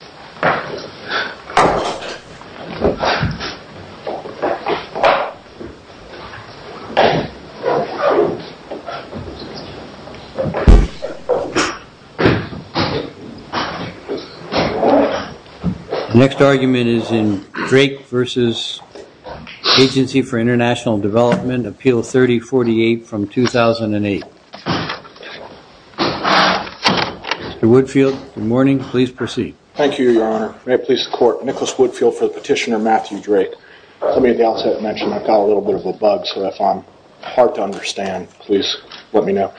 The next argument is in Drake v. Agency for International Development, Appeal 3048 from 2008. Mr. Woodfield, good morning. Please proceed. Thank you, your honor. May it please the court. Nicholas Woodfield for Petitioner Matthew Drake. Let me at the outset mention I've got a little bit of a bug, so if I'm hard to understand, please let me know.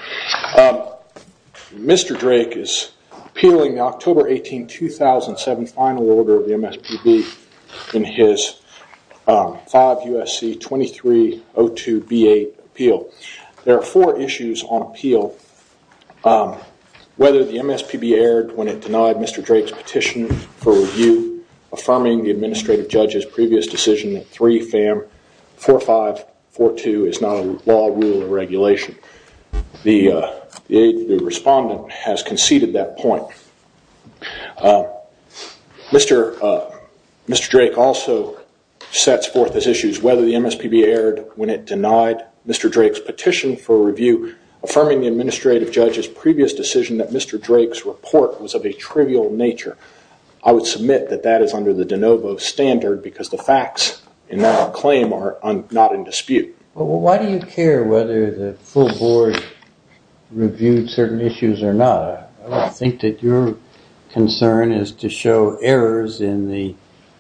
Mr. Drake is appealing the October 18, 2007 final order of the MSPB in his 5 U.S.C. 2302 B.A. appeal. There are four issues on appeal. Whether the MSPB erred when it denied Mr. Drake's petition for review, affirming the administrative judge's previous decision that 3FAM4542 is not a law, rule or regulation. The respondent has conceded that point. Mr. Drake also sets forth as issues whether the MSPB erred when it denied Mr. Drake's petition for review, affirming the administrative judge's previous decision that Mr. Drake's report was of a trivial nature. I would submit that that is under the de novo standard because the facts in that claim are not in dispute. Why do you care whether the full board reviewed certain issues or not? I don't think that your concern is to show errors in the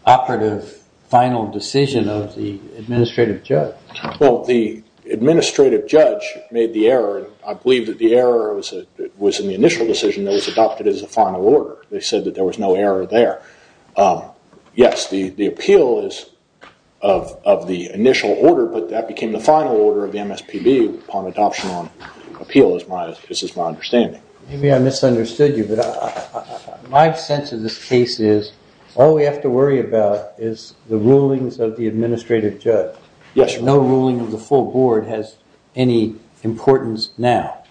operative final decision of the administrative judge. Well, the administrative judge made the error. I believe that the error was in the initial decision that was adopted as a final order. They said that there was no error there. Yes, the appeal is of the initial order, but that became the final order of the MSPB upon adoption on appeal is my understanding. Maybe I misunderstood you, but my sense of this case is all we have to worry about is the rulings of the administrative judge. No ruling of the full board has any importance now.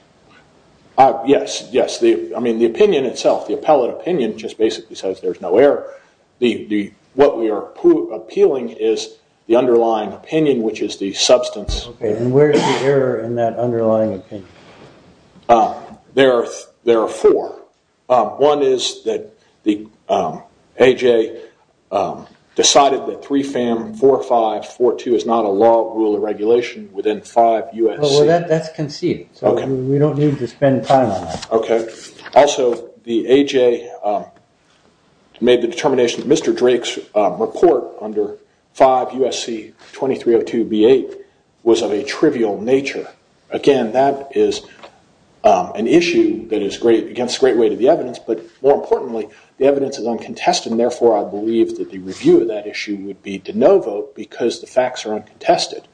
Yes, yes. I mean the opinion itself, the appellate opinion just basically says there's no error. What we are appealing is the underlying opinion, which is the substance. Where is the error in that underlying opinion? There are four. One is that the AJ decided that 3FAM4542 is not a law rule of regulation within 5 USC. Well, that's conceived, so we don't need to spend time on that. Also, the AJ made the determination that Mr. Drake's report under 5 USC 2302B8 was of a trivial nature. Again, that is an issue that is against the great weight of the evidence, but more importantly, the evidence is uncontested. Therefore, I believe that the review of that issue would be de novo because the facts are uncontested.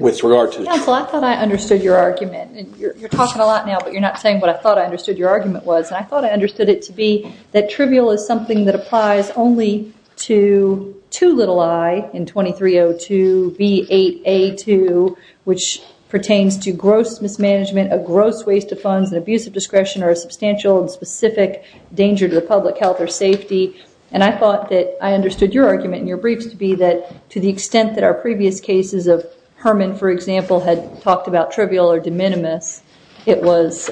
Counsel, I thought I understood your argument. You're talking a lot now, but you're not saying what I thought I understood your argument was. I thought I understood it to be that trivial is something that applies only to 2i in 2302B8A2, which pertains to gross mismanagement, a gross waste of funds, and abuse of discretion or a substantial and specific danger to the public health or safety. I thought that I understood your argument in your briefs to be that to the extent that our previous cases of Herman, for example, had talked about trivial or de minimis, it was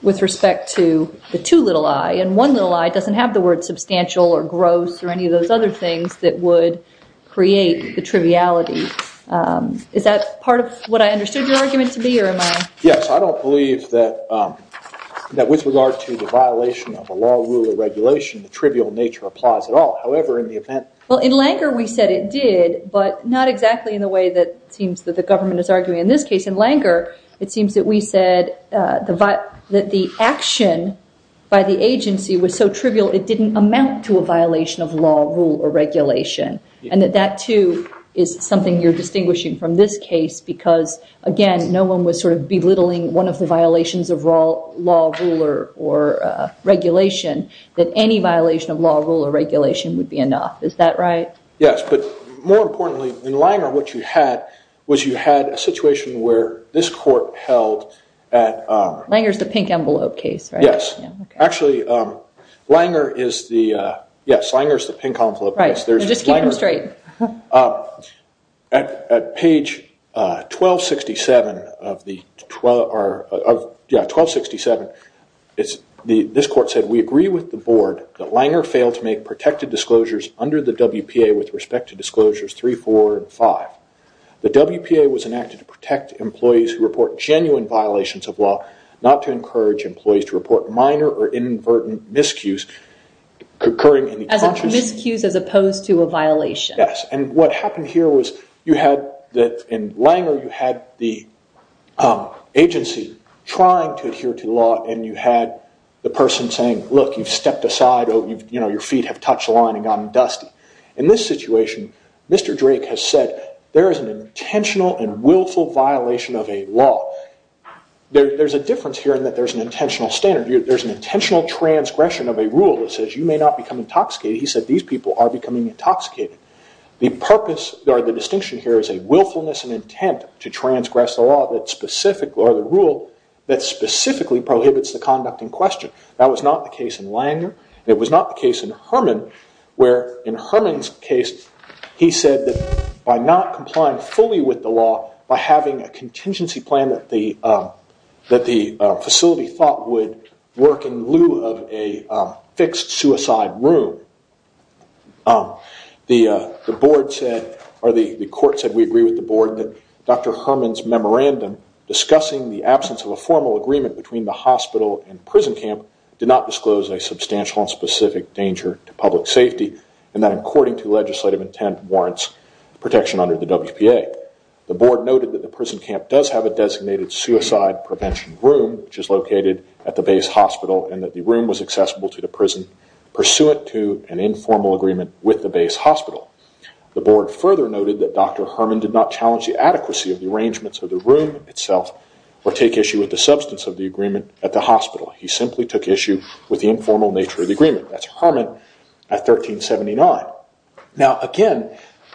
with respect to the 2i, and 1i doesn't have the word substantial or gross or any of those other things that would create the triviality. Is that part of what I understood your argument to be? Yes, I don't believe that with regard to the violation of a law, rule, or regulation, the trivial nature applies at all. However, in the event... Well, in Langer, we said it did, but not exactly in the way that it seems that the government is arguing. In this case, in Langer, it seems that we said that the action by the agency was so trivial it didn't amount to a violation of law, rule, or regulation. And that that, too, is something you're distinguishing from this case because, again, no one was sort of belittling one of the violations of law, rule, or regulation, that any violation of law, rule, or regulation would be enough. Is that right? Yes, but more importantly, in Langer, what you had was you had a situation where this court held at... Langer's the pink envelope case, right? Yes. Actually, Langer is the... Yes, Langer's the pink envelope case. Right. Just keep them straight. At page 1267, this court said, We agree with the Board that Langer failed to make protected disclosures under the WPA with respect to Disclosures 3, 4, and 5. The WPA was enacted to protect employees who report genuine violations of law, not to encourage employees to report minor or inadvertent miscues... As miscues as opposed to a violation. Yes, and what happened here was you had, in Langer, you had the agency trying to adhere to law and you had the person saying, Look, you've stepped aside. Your feet have touched the line and gotten dusty. In this situation, Mr. Drake has said, There is an intentional and willful violation of a law. There's a difference here in that there's an intentional standard. There's an intentional transgression of a rule that says you may not become intoxicated. He said these people are becoming intoxicated. The purpose or the distinction here is a willfulness and intent to transgress the law that specifically prohibits the conduct in question. That was not the case in Langer. It was not the case in Herman, where in Herman's case, he said that by not complying fully with the law, by having a contingency plan that the facility thought would work in lieu of a fixed suicide room, the board said, or the court said, we agree with the board, that Dr. Herman's memorandum discussing the absence of a formal agreement between the hospital and prison camp did not disclose a substantial and specific danger to public safety, and that according to legislative intent warrants protection under the WPA. The board noted that the prison camp does have a designated suicide prevention room, which is located at the base hospital, and that the room was accessible to the prison pursuant to an informal agreement with the base hospital. The board further noted that Dr. Herman did not challenge the adequacy of the arrangements of the room itself, or take issue with the substance of the agreement at the hospital. He simply took issue with the informal nature of the agreement. That's Herman at 1379. Now, again,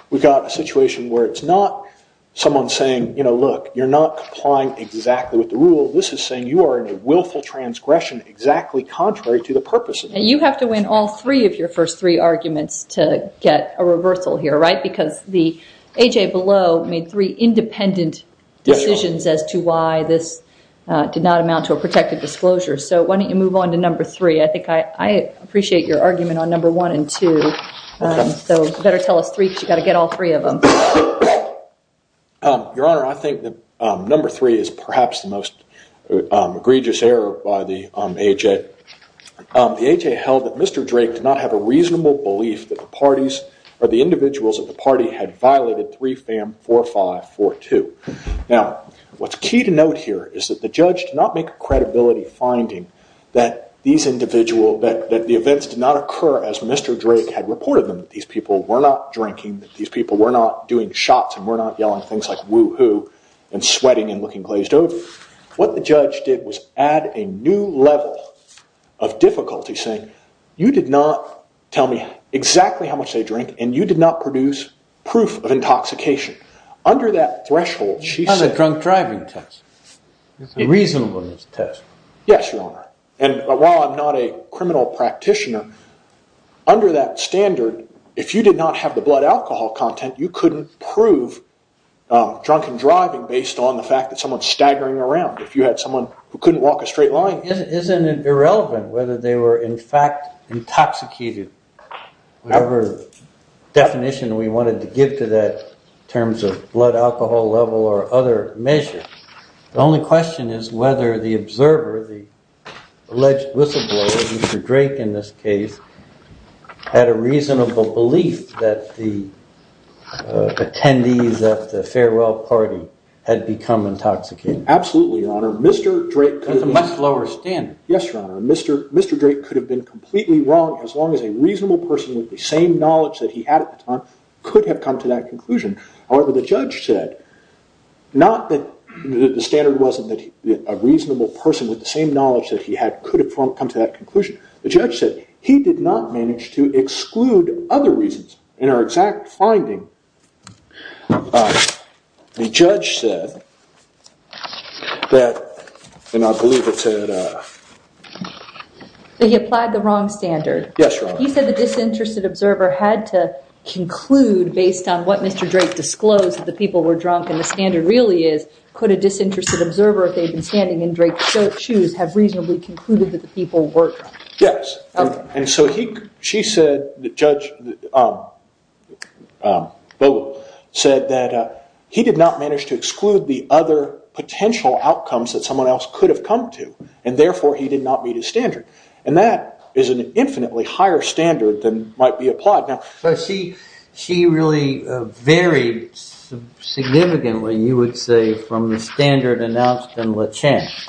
we've got a situation where it's not someone saying, you know, look, you're not complying exactly with the rule. This is saying you are in a willful transgression exactly contrary to the purposes. And you have to win all three of your first three arguments to get a reversal here, right? Because the A.J. Below made three independent decisions as to why this did not amount to a protected disclosure. So why don't you move on to number three? I think I appreciate your argument on number one and two. So you better tell us three because you've got to get all three of them. Your Honor, I think that number three is perhaps the most egregious error by the A.J. The A.J. held that Mr. Drake did not have a reasonable belief that the parties or the individuals of the party had violated 3FAM4542. Now, what's key to note here is that the judge did not make a credibility finding that these individuals, that the events did not occur as Mr. Drake had reported them, that these people were not drinking, that these people were not doing shots and were not yelling things like woo-hoo and sweating and looking glazed over. What the judge did was add a new level of difficulty saying, you did not tell me exactly how much they drink and you did not produce proof of intoxication. Under that threshold, she said... That's a drunk driving test. It's a reasonableness test. Yes, Your Honor. And while I'm not a criminal practitioner, under that standard, if you did not have the blood alcohol content, you couldn't prove drunken driving based on the fact that someone's staggering around. If you had someone who couldn't walk a straight line... Isn't it irrelevant whether they were in fact intoxicated? Whatever definition we wanted to give to that in terms of blood alcohol level or other measure. The only question is whether the observer, the alleged whistleblower, Mr. Drake in this case, had a reasonable belief that the attendees of the farewell party had become intoxicated. Absolutely, Your Honor. Mr. Drake... That's a much lower standard. Yes, Your Honor. Mr. Drake could have been completely wrong as long as a reasonable person with the same knowledge that he had at the time could have come to that conclusion. However, the judge said, not that the standard wasn't that a reasonable person with the same knowledge that he had could have come to that conclusion. The judge said he did not manage to exclude other reasons in our exact finding. The judge said that, and I believe it said... That he applied the wrong standard. Yes, Your Honor. He said the disinterested observer had to conclude based on what Mr. Drake disclosed that the people were drunk and the standard really is. Could a disinterested observer, if they had been standing in Drake's shoes, have reasonably concluded that the people were drunk? Yes. Okay. And so she said that Judge Vogel said that he did not manage to exclude the other potential outcomes that someone else could have come to and therefore he did not meet his standard. And that is an infinitely higher standard than might be applied. But she really varied significantly, you would say, from the standard announced in Le Chant. She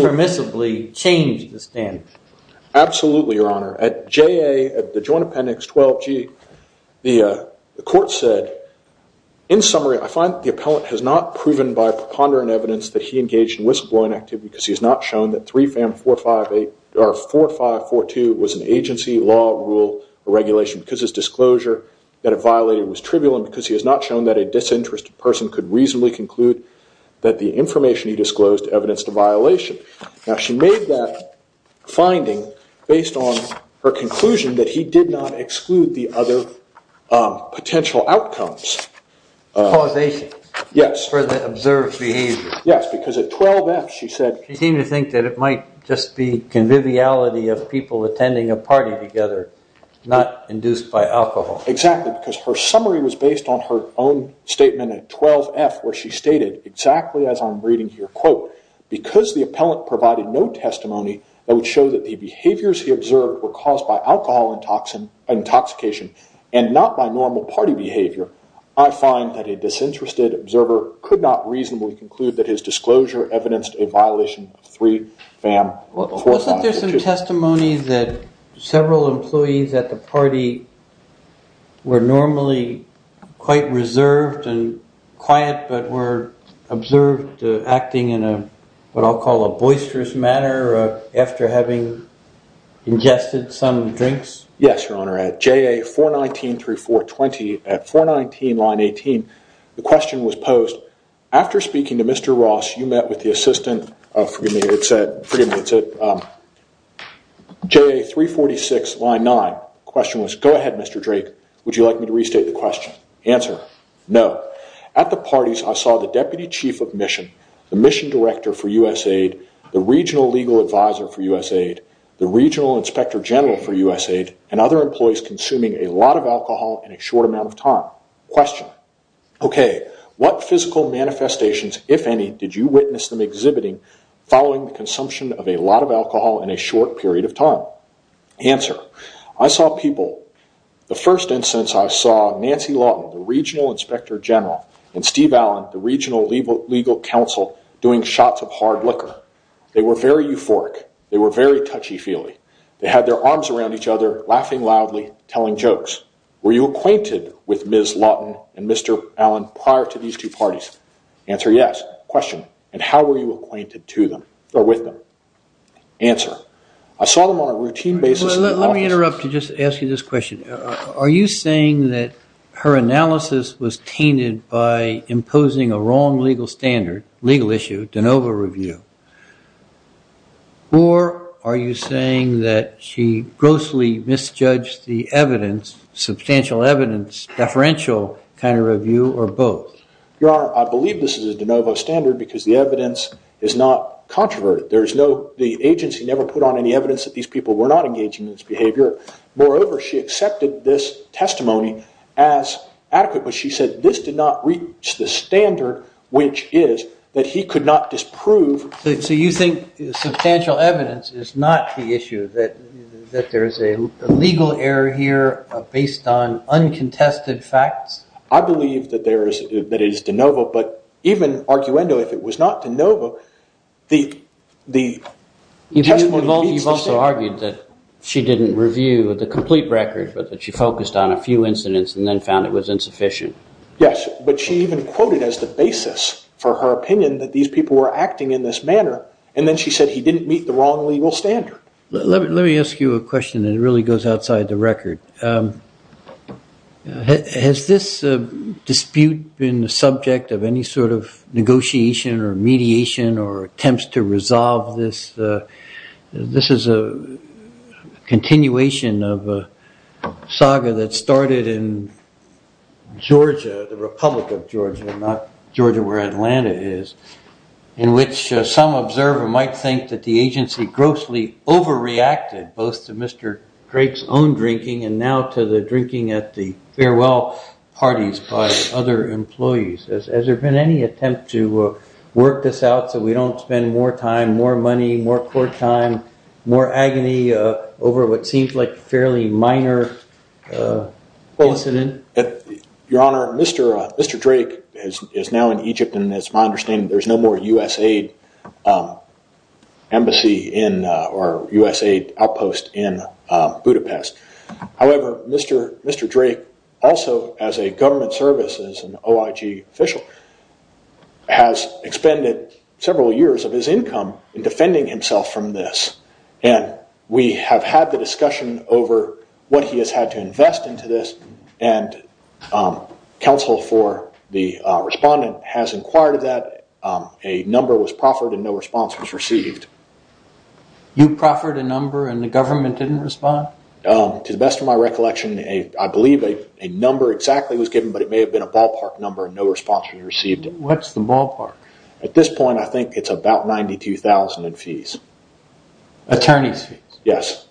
permissibly changed the standard. Absolutely, Your Honor. At JA, at the Joint Appendix 12G, the court said, in summary, I find that the appellant has not proven by preponderant evidence that he engaged in whistleblowing activity because he has not shown that 4542 was an agency law rule or regulation because his disclosure that it violated was trivial and because he has not shown that a disinterested person could reasonably conclude that the information he disclosed evidenced a violation. Now she made that finding based on her conclusion that he did not exclude the other potential outcomes. Causation. Yes. For the observed behavior. Yes, because at 12F she said She seemed to think that it might just be conviviality of people attending a party together, not induced by alcohol. Exactly, because her summary was based on her own statement at 12F where she stated, exactly as I'm reading here, quote, because the appellant provided no testimony that would show that the behaviors he observed were caused by alcohol intoxication and not by normal party behavior, I find that a disinterested observer could not reasonably conclude that his disclosure evidenced a violation of three FAM. Wasn't there some testimony that several employees at the party were normally quite reserved and quiet but were observed acting in what I'll call a boisterous manner after having ingested some drinks? Yes, Your Honor. At JA 419-3420, at 419 line 18, the question was posed, After speaking to Mr. Ross, you met with the assistant of, forgive me, it said, JA 346 line 9. The question was, Go ahead, Mr. Drake. Would you like me to restate the question? Answer, No. At the parties, I saw the deputy chief of mission, the mission director for USAID, the regional legal advisor for USAID, the regional inspector general for USAID, and other employees consuming a lot of alcohol in a short amount of time. Question. Okay. What physical manifestations, if any, did you witness them exhibiting following the consumption of a lot of alcohol in a short period of time? Answer. I saw people, the first instance I saw, Nancy Lawton, the regional inspector general, and Steve Allen, the regional legal counsel, doing shots of hard liquor. They were very euphoric. They were very touchy-feely. They had their arms around each other, laughing loudly, telling jokes. Were you acquainted with Ms. Lawton and Mr. Allen prior to these two parties? Answer, Yes. Question. And how were you acquainted to them, or with them? Answer. I saw them on a routine basis. Let me interrupt to just ask you this question. Are you saying that her analysis was tainted by imposing a wrong legal standard, legal issue, de novo review? Or are you saying that she grossly misjudged the evidence, substantial evidence, deferential kind of review, or both? Your Honor, I believe this is a de novo standard because the evidence is not controverted. The agency never put on any evidence that these people were not engaging in this behavior. Moreover, she accepted this testimony as adequate, but she said this did not reach the standard, which is that he could not disprove. So you think substantial evidence is not the issue, that there is a legal error here based on uncontested facts? I believe that it is de novo, but even arguendo, if it was not de novo, the testimony meets the standard. You've also argued that she didn't review the complete record, but that she focused on a few incidents and then found it was insufficient. Yes, but she even quoted as the basis for her opinion that these people were acting in this manner, and then she said he didn't meet the wrong legal standard. Let me ask you a question that really goes outside the record. Has this dispute been the subject of any sort of negotiation or mediation or attempts to resolve this? This is a continuation of a saga that started in Georgia, the Republic of Georgia, not Georgia where Atlanta is, in which some observer might think that the agency grossly overreacted, both to Mr. Drake's own drinking and now to the drinking at the farewell parties by other employees. Has there been any attempt to work this out so we don't spend more time, more money, more court time, more agony over what seems like a fairly minor incident? Your Honor, Mr. Drake is now in Egypt and it is my understanding that there is no more USAID outpost in Budapest. However, Mr. Drake, also as a government service, as an OIG official, has expended several years of his income in defending himself from this. We have had the discussion over what he has had to invest into this and counsel for the respondent has inquired that a number was proffered and no response was received. You proffered a number and the government didn't respond? To the best of my recollection I believe a number exactly was given but it may have been a ballpark number and no response was received. What's the ballpark? At this point I think it's about $92,000 in fees. Attorney's fees? Yes.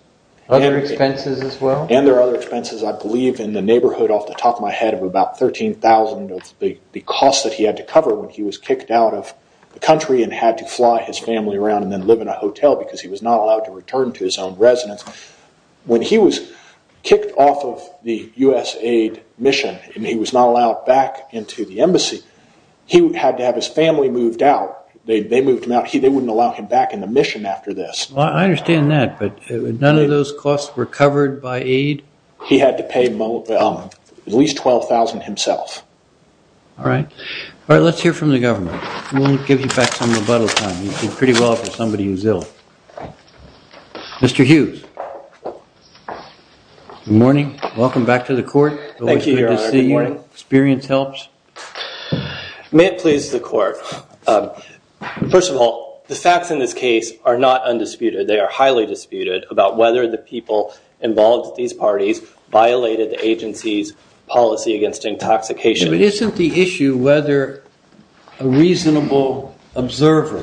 Other expenses as well? And there are other expenses I believe in the neighborhood off the top of my head of about $13,000 of the cost that he had to cover when he was kicked out of the country and had to fly his family around and then live in a hotel because he was not allowed to return to his own residence. When he was kicked off of the USAID mission and he was not allowed back into the embassy, he had to have his family moved out. They moved him out. They wouldn't allow him back in the mission after this. I understand that but none of those costs were covered by aid? He had to pay at least $12,000 himself. Alright. Let's hear from the government. We'll give you back some rebuttal time. You did pretty well for somebody who's ill. Mr. Hughes. Good morning. Welcome back to the court. Thank you, Your Honor. Good morning. Hope it's good to see you. Experience helps? May it please the court. First of all, the facts in this case are not undisputed. They are highly disputed about whether the people involved with these parties violated the agency's policy against intoxication. But isn't the issue whether a reasonable observer,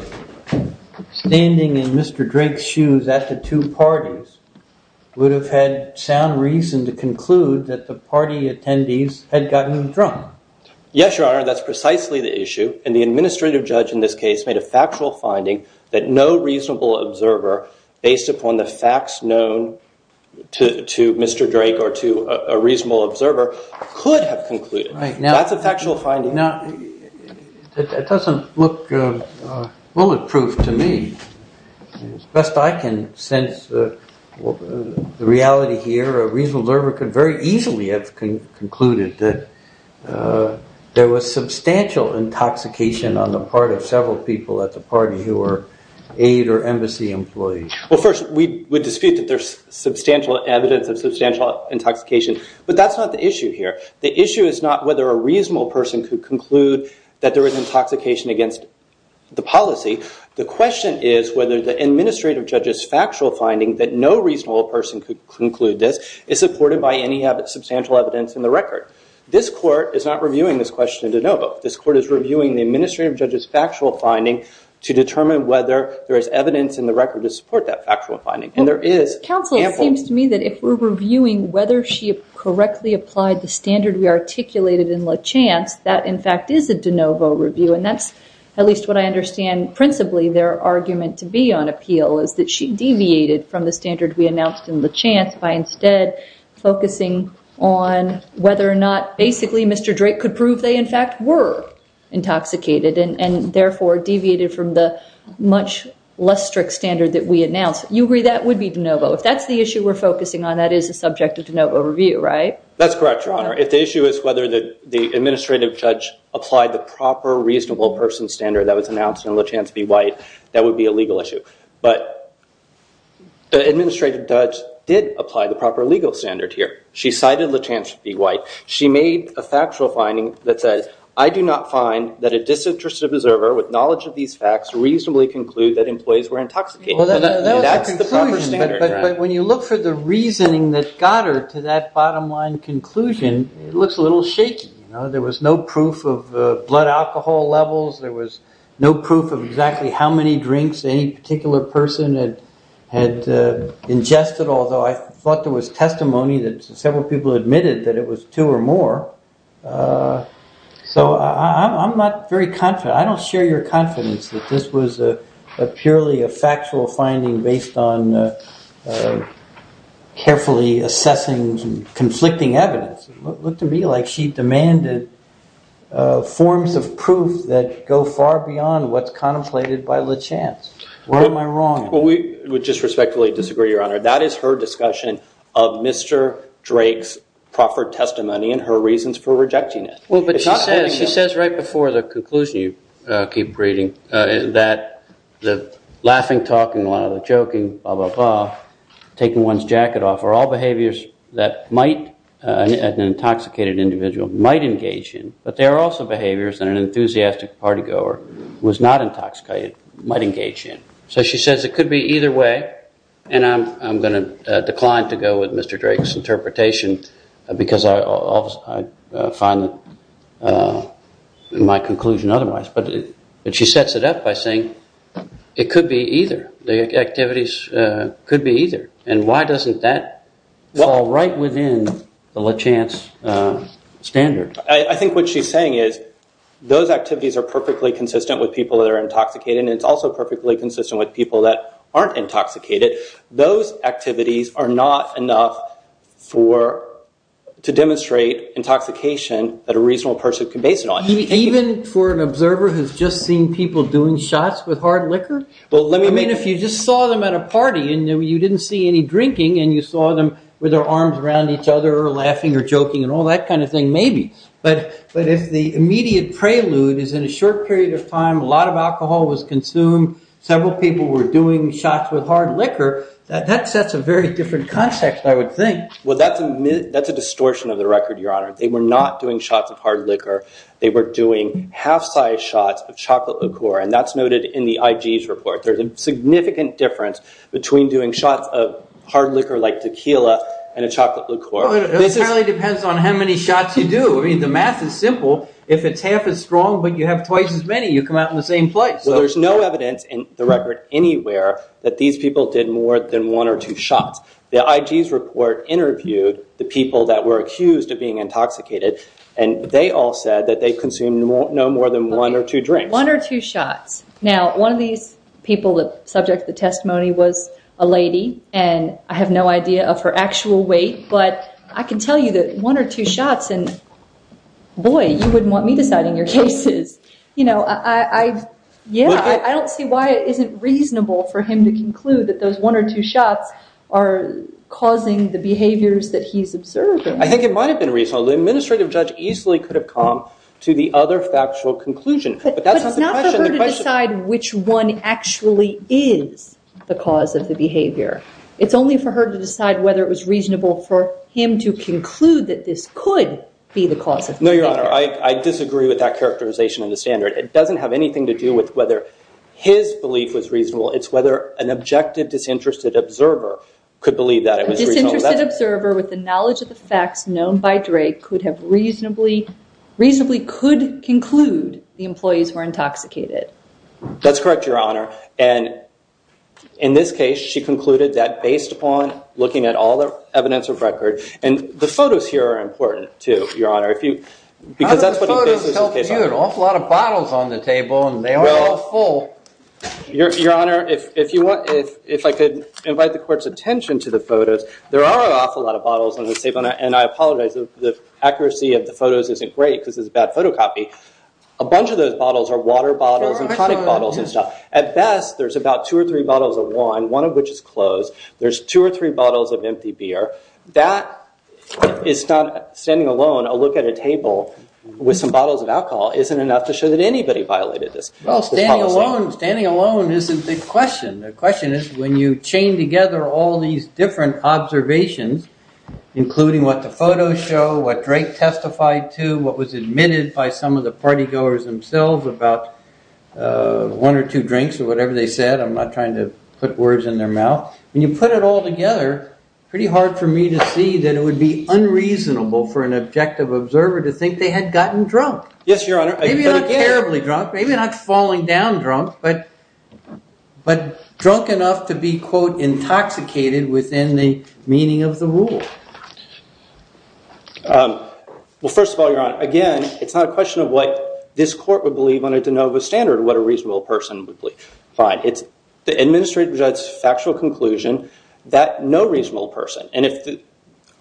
standing in Mr. Drake's shoes at the two parties, would have had sound reason to conclude that the party attendees had gotten drunk? Yes, Your Honor. That's precisely the issue. And the administrative judge in this case made a factual finding that no reasonable observer, based upon the facts known to Mr. Drake or to a reasonable observer, could have concluded. That's a factual finding. It doesn't look bulletproof to me. As best I can sense the reality here, a reasonable observer could very easily have concluded that there was substantial intoxication on the part of several people at the party who were aid or embassy employees. Well, first, we would dispute that there's substantial evidence of substantial intoxication. But that's not the issue here. The issue is not whether a reasonable person could conclude that there was intoxication against the policy. The question is whether the administrative judge's factual finding that no reasonable person could conclude this is supported by any substantial evidence in the record. This court is not reviewing this question in de novo. This court is reviewing the administrative judge's factual finding to determine whether there is evidence in the record to support that factual finding. And there is ample. Counsel, it seems to me that if we're reviewing whether she correctly applied the standard we articulated in La Chance, that, in fact, is a de novo review. And that's at least what I understand principally their argument to be on appeal, is that she deviated from the standard we announced in La Chance by instead focusing on whether or not basically Mr. Drake could prove they, in fact, were intoxicated and, therefore, deviated from the much less strict standard that we announced. You agree that would be de novo. If that's the issue we're focusing on, that is a subject of de novo review, right? That's correct, Your Honor. If the issue is whether the administrative judge applied the proper reasonable person standard that was announced in La Chance v. White, that would be a legal issue. But the administrative judge did apply the proper legal standard here. She cited La Chance v. White. She made a factual finding that says, I do not find that a disinterested observer with knowledge of these facts reasonably conclude that employees were intoxicated. That's the proper standard, Your Honor. But when you look for the reasoning that got her to that bottom line conclusion, it looks a little shaky. There was no proof of blood alcohol levels. There was no proof of exactly how many drinks any particular person had ingested, although I thought there was testimony that several people admitted that it was two or more. So I'm not very confident. I don't share your confidence that this was purely a factual finding based on carefully assessing conflicting evidence. It looked to me like she demanded forms of proof that go far beyond what's contemplated by La Chance. What am I wrong? Well, we would disrespectfully disagree, Your Honor. That is her discussion of Mr. Drake's proffered testimony and her reasons for rejecting it. Well, but she says right before the conclusion you keep reading that the laughing, talking, a lot of the joking, blah, blah, blah, taking one's jacket off, are all behaviors that an intoxicated individual might engage in. But there are also behaviors that an enthusiastic party goer who is not intoxicated might engage in. So she says it could be either way. And I'm going to decline to go with Mr. Drake's interpretation because I find my conclusion otherwise. But she sets it up by saying it could be either. The activities could be either. And why doesn't that fall right within the La Chance standard? I think what she's saying is those activities are perfectly consistent with people that are intoxicated and it's also perfectly consistent with people that aren't intoxicated. Those activities are not enough to demonstrate intoxication that a reasonable person can base it on. Even for an observer who's just seen people doing shots with hard liquor? I mean if you just saw them at a party and you didn't see any drinking and you saw them with their arms around each other laughing or joking and all that kind of thing, maybe. But if the immediate prelude is in a short period of time, a lot of alcohol was consumed, several people were doing shots with hard liquor, that sets a very different context, I would think. Well, that's a distortion of the record, Your Honor. They were not doing shots of hard liquor. They were doing half-size shots of chocolate liqueur and that's noted in the IG's report. There's a significant difference between doing shots of hard liquor like tequila and a chocolate liqueur. It really depends on how many shots you do. I mean the math is simple. If it's half as strong but you have twice as many, you come out in the same place. Well, there's no evidence in the record anywhere that these people did more than one or two shots. The IG's report interviewed the people that were accused of being intoxicated and they all said that they consumed no more than one or two drinks. One or two shots. Now, one of these people, the subject of the testimony was a lady, and I have no idea of her actual weight. But I can tell you that one or two shots and, boy, you wouldn't want me deciding your cases. Yeah, I don't see why it isn't reasonable for him to conclude that those one or two shots are causing the behaviors that he's observing. I think it might have been reasonable. The administrative judge easily could have come to the other factual But that's not the question. But it's not for her to decide which one actually is the cause of the behavior. It's only for her to decide whether it was reasonable for him to conclude that this could be the cause of the behavior. No, Your Honor. I disagree with that characterization in the standard. It doesn't have anything to do with whether his belief was reasonable. It's whether an objective disinterested observer could believe that it was reasonable. A disinterested observer with the knowledge of the facts known by Drake could have reasonably, reasonably could conclude the employees were intoxicated. That's correct, Your Honor. And in this case, she concluded that based upon looking at all the evidence of record, and the photos here are important, too, Your Honor. How did the photos help you? There are an awful lot of bottles on the table. And they are all full. Your Honor, if I could invite the court's attention to the photos, there are an awful lot of bottles on the table. And I apologize. The accuracy of the photos isn't great because it's a bad photocopy. A bunch of those bottles are water bottles and tonic bottles and stuff. At best, there's about two or three bottles of wine, one of which is closed. There's two or three bottles of empty beer. That is not, standing alone, a look at a table with some bottles of alcohol isn't enough to show that anybody violated this policy. Well, standing alone isn't the question. The question is when you chain together all these different observations, including what the photos show, what Drake testified to, what was admitted by some of the partygoers themselves about one or two drinks or whatever they said. I'm not trying to put words in their mouth. When you put it all together, pretty hard for me to see that it would be unreasonable for an objective observer to think they had gotten drunk. Yes, Your Honor. Maybe not terribly drunk. Maybe not falling down drunk, but drunk enough to be, quote, intoxicated within the meaning of the rule. Well, first of all, Your Honor, again, it's not a question of what this court would believe on a de novo standard or what a reasonable person would believe. Fine. It's the administrative judge's factual conclusion that no reasonable person. And if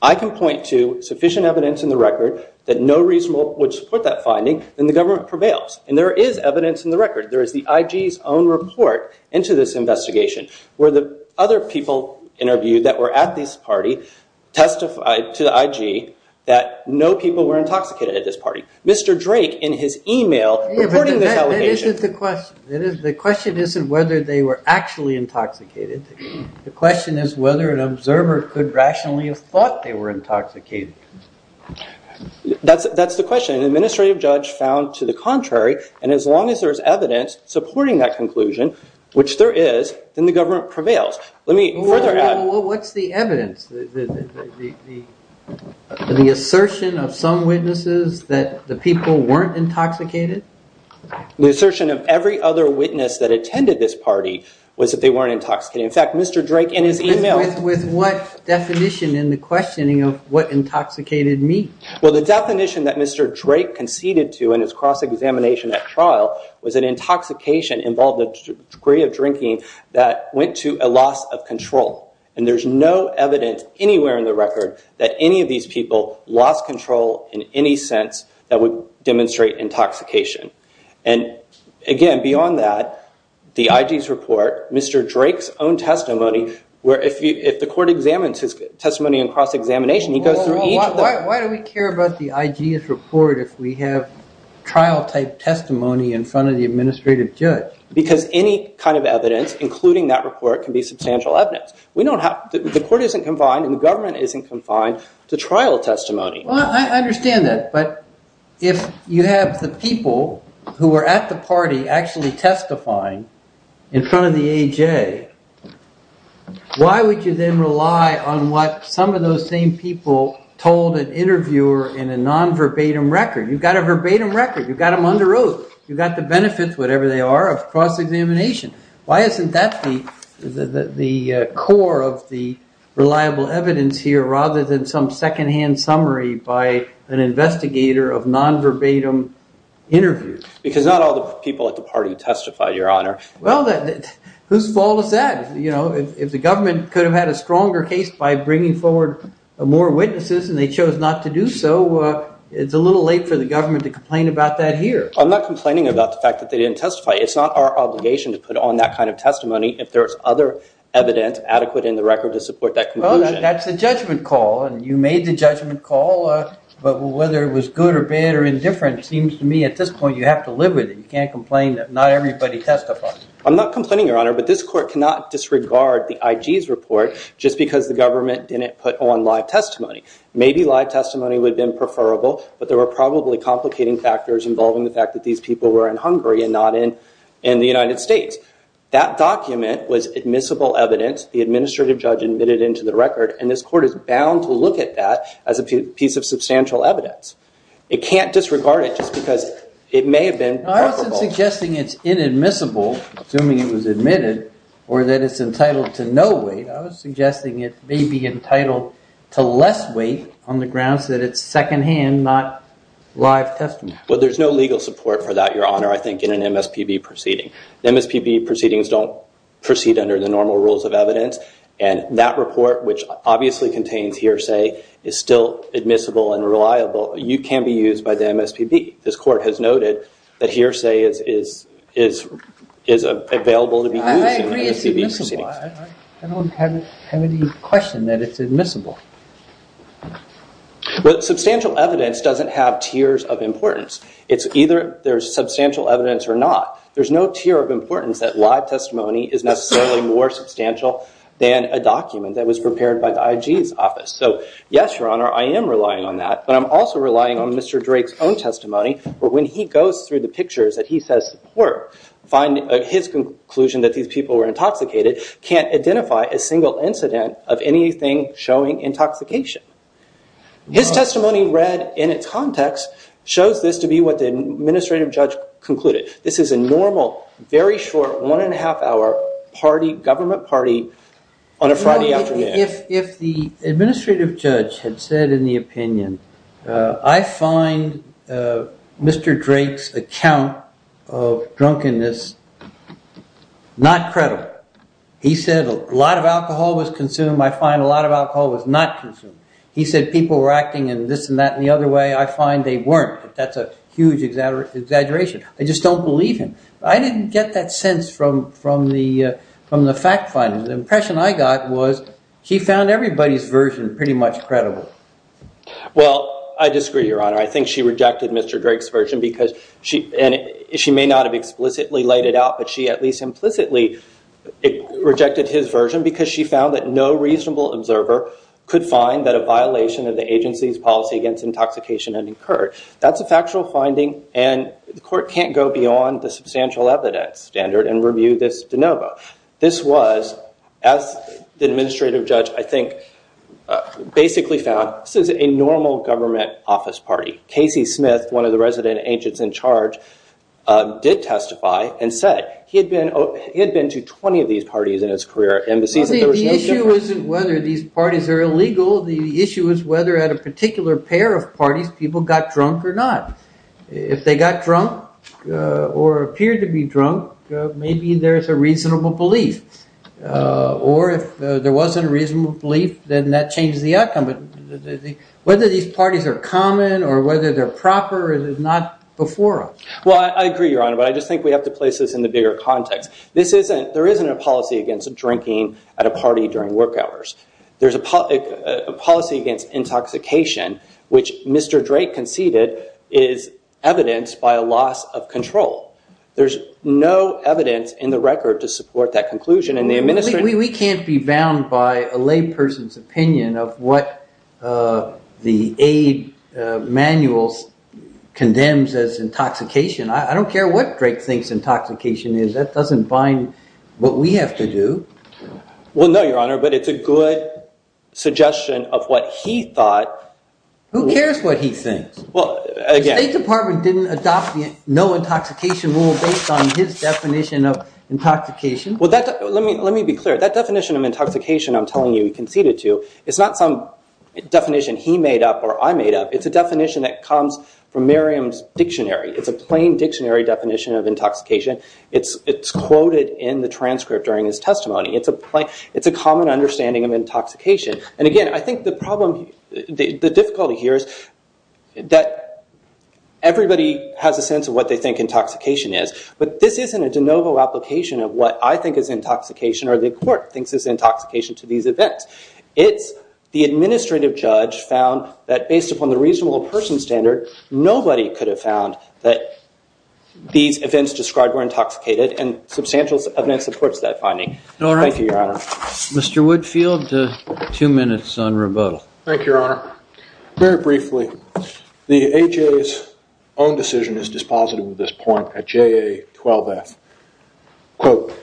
I can point to sufficient evidence in the record that no reasonable would support that finding, then the government prevails. And there is evidence in the record. There is the IG's own report into this investigation where the other people interviewed that were at this party testified to the IG that no people were intoxicated at this party. Mr. Drake, in his email, reporting this allegation. That isn't the question. The question isn't whether they were actually intoxicated. The question is whether an observer could rationally have thought they were intoxicated. That's the question. An administrative judge found to the contrary. And as long as there's evidence supporting that conclusion, which there is, then the government prevails. Let me further add. Well, what's the evidence? The assertion of some witnesses that the people weren't intoxicated? The assertion of every other witness that attended this party was that they weren't intoxicated. In fact, Mr. Drake, in his email. With what definition in the questioning of what intoxicated me? Well, the definition that Mr. Drake conceded to in his cross-examination at trial was that intoxication involved a degree of drinking that went to a loss of control. And there's no evidence anywhere in the record that any of these people lost control in any sense that would demonstrate intoxication. And again, beyond that, the IG's report, Mr. Drake's own testimony, where if the court examines his testimony in cross-examination, he goes through each one. Why do we care about the IG's report if we have trial-type testimony in front of the administrative judge? Because any kind of evidence, including that report, can be substantial evidence. The court isn't confined and the government isn't confined to trial testimony. Well, I understand that. But if you have the people who were at the party actually testifying in front of the AJ, why would you then rely on what some of those same people told an interviewer in a non-verbatim record? You've got a verbatim record. You've got them under oath. You've got the benefits, whatever they are, of cross-examination. Why isn't that the core of the reliable evidence here rather than some secondhand summary by an investigator of non-verbatim interviews? Because not all the people at the party testified, Your Honor. Well, whose fault is that? You know, if the government could have had a stronger case by bringing forward more witnesses and they chose not to do so, it's a little late for the government to complain about that here. I'm not complaining about the fact that they didn't testify. It's not our obligation to put on that kind of testimony if there's other evidence adequate in the record to support that conclusion. Well, that's a judgment call, and you made the judgment call. But whether it was good or bad or indifferent seems to me at this point you have to live with it. You can't complain that not everybody testified. I'm not complaining, Your Honor, but this court cannot disregard the IG's report just because the government didn't put on live testimony. Maybe live testimony would have been preferable, but there were probably complicating factors involving the fact that these people were in Hungary and not in the United States. That document was admissible evidence. The administrative judge admitted into the record, and this court is bound to look at that as a piece of substantial evidence. It can't disregard it just because it may have been preferable. I wasn't suggesting it's inadmissible, assuming it was admitted, or that it's entitled to no weight. I was suggesting it may be entitled to less weight on the grounds that it's secondhand, not live testimony. Well, there's no legal support for that, Your Honor, I think, in an MSPB proceeding. MSPB proceedings don't proceed under the normal rules of evidence, and that report, which obviously contains hearsay, is still admissible and reliable. It can be used by the MSPB. This court has noted that hearsay is available to be used in MSPB proceedings. I agree it's admissible. I don't have any question that it's admissible. But substantial evidence doesn't have tiers of importance. It's either there's substantial evidence or not. There's no tier of importance that live testimony is necessarily more substantial than a document that was prepared by the IG's office. So yes, Your Honor, I am relying on that. But I'm also relying on Mr. Drake's own testimony, where when he goes through the pictures that he says support, his conclusion that these people were intoxicated can't identify a single incident of anything showing intoxication. His testimony read in its context shows this to be what the administrative judge concluded. This is a normal, very short one-and-a-half-hour party, government party, on a Friday afternoon. No, if the administrative judge had said in the opinion, I find Mr. Drake's account of drunkenness not credible. He said a lot of alcohol was consumed. I find a lot of alcohol was not consumed. He said people were acting in this and that and the other way. I find they weren't. That's a huge exaggeration. I just don't believe him. I didn't get that sense from the fact finding. The impression I got was he found everybody's version pretty much credible. Well, I disagree, Your Honor. I think she rejected Mr. Drake's version because she may not have explicitly laid it out, but she at least implicitly rejected his version because she found that no reasonable observer could find that a violation of the agency's policy against intoxication had occurred. That's a factual finding, and the court can't go beyond the substantial evidence standard and review this de novo. This was, as the administrative judge I think basically found, this is a normal government office party. Casey Smith, one of the resident agents in charge, did testify and said he had been to 20 of these parties in his career at embassies. The issue isn't whether these parties are illegal. The issue is whether at a particular pair of parties people got drunk or not. If they got drunk or appeared to be drunk, maybe there's a reasonable belief. Or if there wasn't a reasonable belief, then that changed the outcome. Whether these parties are common or whether they're proper is not before us. Well, I agree, Your Honor, but I just think we have to place this in the bigger context. There isn't a policy against drinking at a party during work hours. There's a policy against intoxication, which Mr. Drake conceded is evidenced by a loss of control. There's no evidence in the record to support that conclusion. We can't be bound by a layperson's opinion of what the aid manual condemns as intoxication. I don't care what Drake thinks intoxication is. That doesn't bind what we have to do. Well, no, Your Honor, but it's a good suggestion of what he thought. Who cares what he thinks? The State Department didn't adopt the no intoxication rule based on his definition of intoxication. Well, let me be clear. That definition of intoxication I'm telling you he conceded to is not some definition he made up or I made up. It's a definition that comes from Merriam's dictionary. It's a plain dictionary definition of intoxication. It's quoted in the transcript during his testimony. It's a common understanding of intoxication. And again, I think the problem, the difficulty here is that everybody has a sense of what they think intoxication is, but this isn't a de novo application of what I think is intoxication or the court thinks is intoxication to these events. It's the administrative judge found that based upon the reasonable person standard, nobody could have found that these events described were intoxicated and substantial evidence supports that finding. Thank you, Your Honor. Mr. Woodfield, two minutes on rebuttal. Thank you, Your Honor. Very briefly, the AHA's own decision is dispositive of this point at JA12F. Quote,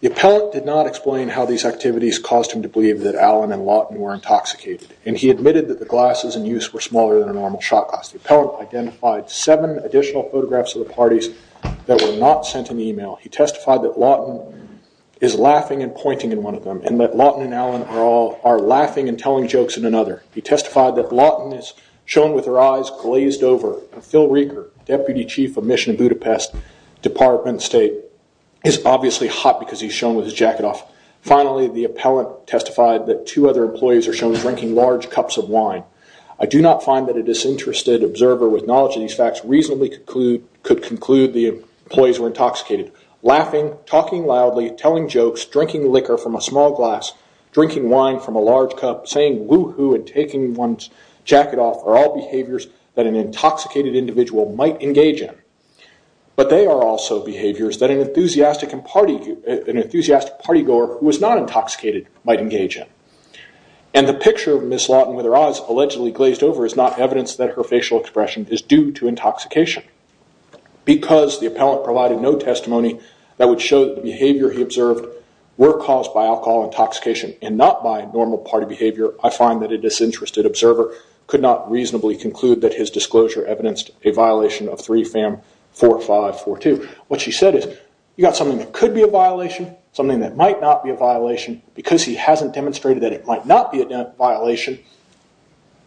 the appellant did not explain how these activities caused him to believe that Allen and Lawton were intoxicated, and he admitted that the glasses in use were smaller than a normal shot glass. The appellant identified seven additional photographs of the parties that were not sent in the email. He testified that Lawton is laughing and pointing in one of them and that Lawton and Allen are laughing and telling jokes in another. He testified that Lawton is shown with her eyes glazed over. Phil Rieger, Deputy Chief of Mission Budapest Department State, is obviously hot because he's shown with his jacket off. Finally, the appellant testified that two other employees are shown drinking large cups of wine. I do not find that a disinterested observer with knowledge of these facts reasonably could conclude the employees were intoxicated. Laughing, talking loudly, telling jokes, drinking liquor from a small glass, drinking wine from a large cup, saying woo-hoo and taking one's jacket off are all behaviors that an intoxicated individual might engage in. But they are also behaviors that an enthusiastic partygoer who is not intoxicated might engage in. The picture of Ms. Lawton with her eyes allegedly glazed over is not evidence that her facial expression is due to intoxication. Because the appellant provided no testimony that would show the behavior he observed were caused by alcohol intoxication and not by normal party behavior, I find that a disinterested observer could not reasonably conclude that his disclosure evidenced a violation of 3 FAM 4542. What she said is, you've got something that could be a violation, something that might not be a violation, because he hasn't demonstrated that it might not be a violation,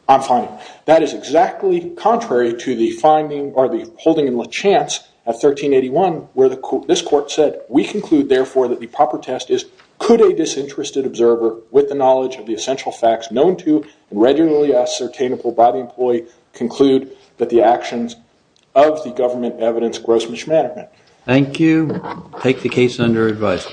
I'm fine. That is exactly contrary to the finding or the holding in LaChance at 1381 where this court said, we conclude therefore that the proper test is, could a disinterested observer with the knowledge of the essential facts known to and regularly ascertainable by the employee conclude that the actions of the government evidence gross mismanagement? Thank you. Take the case under advice.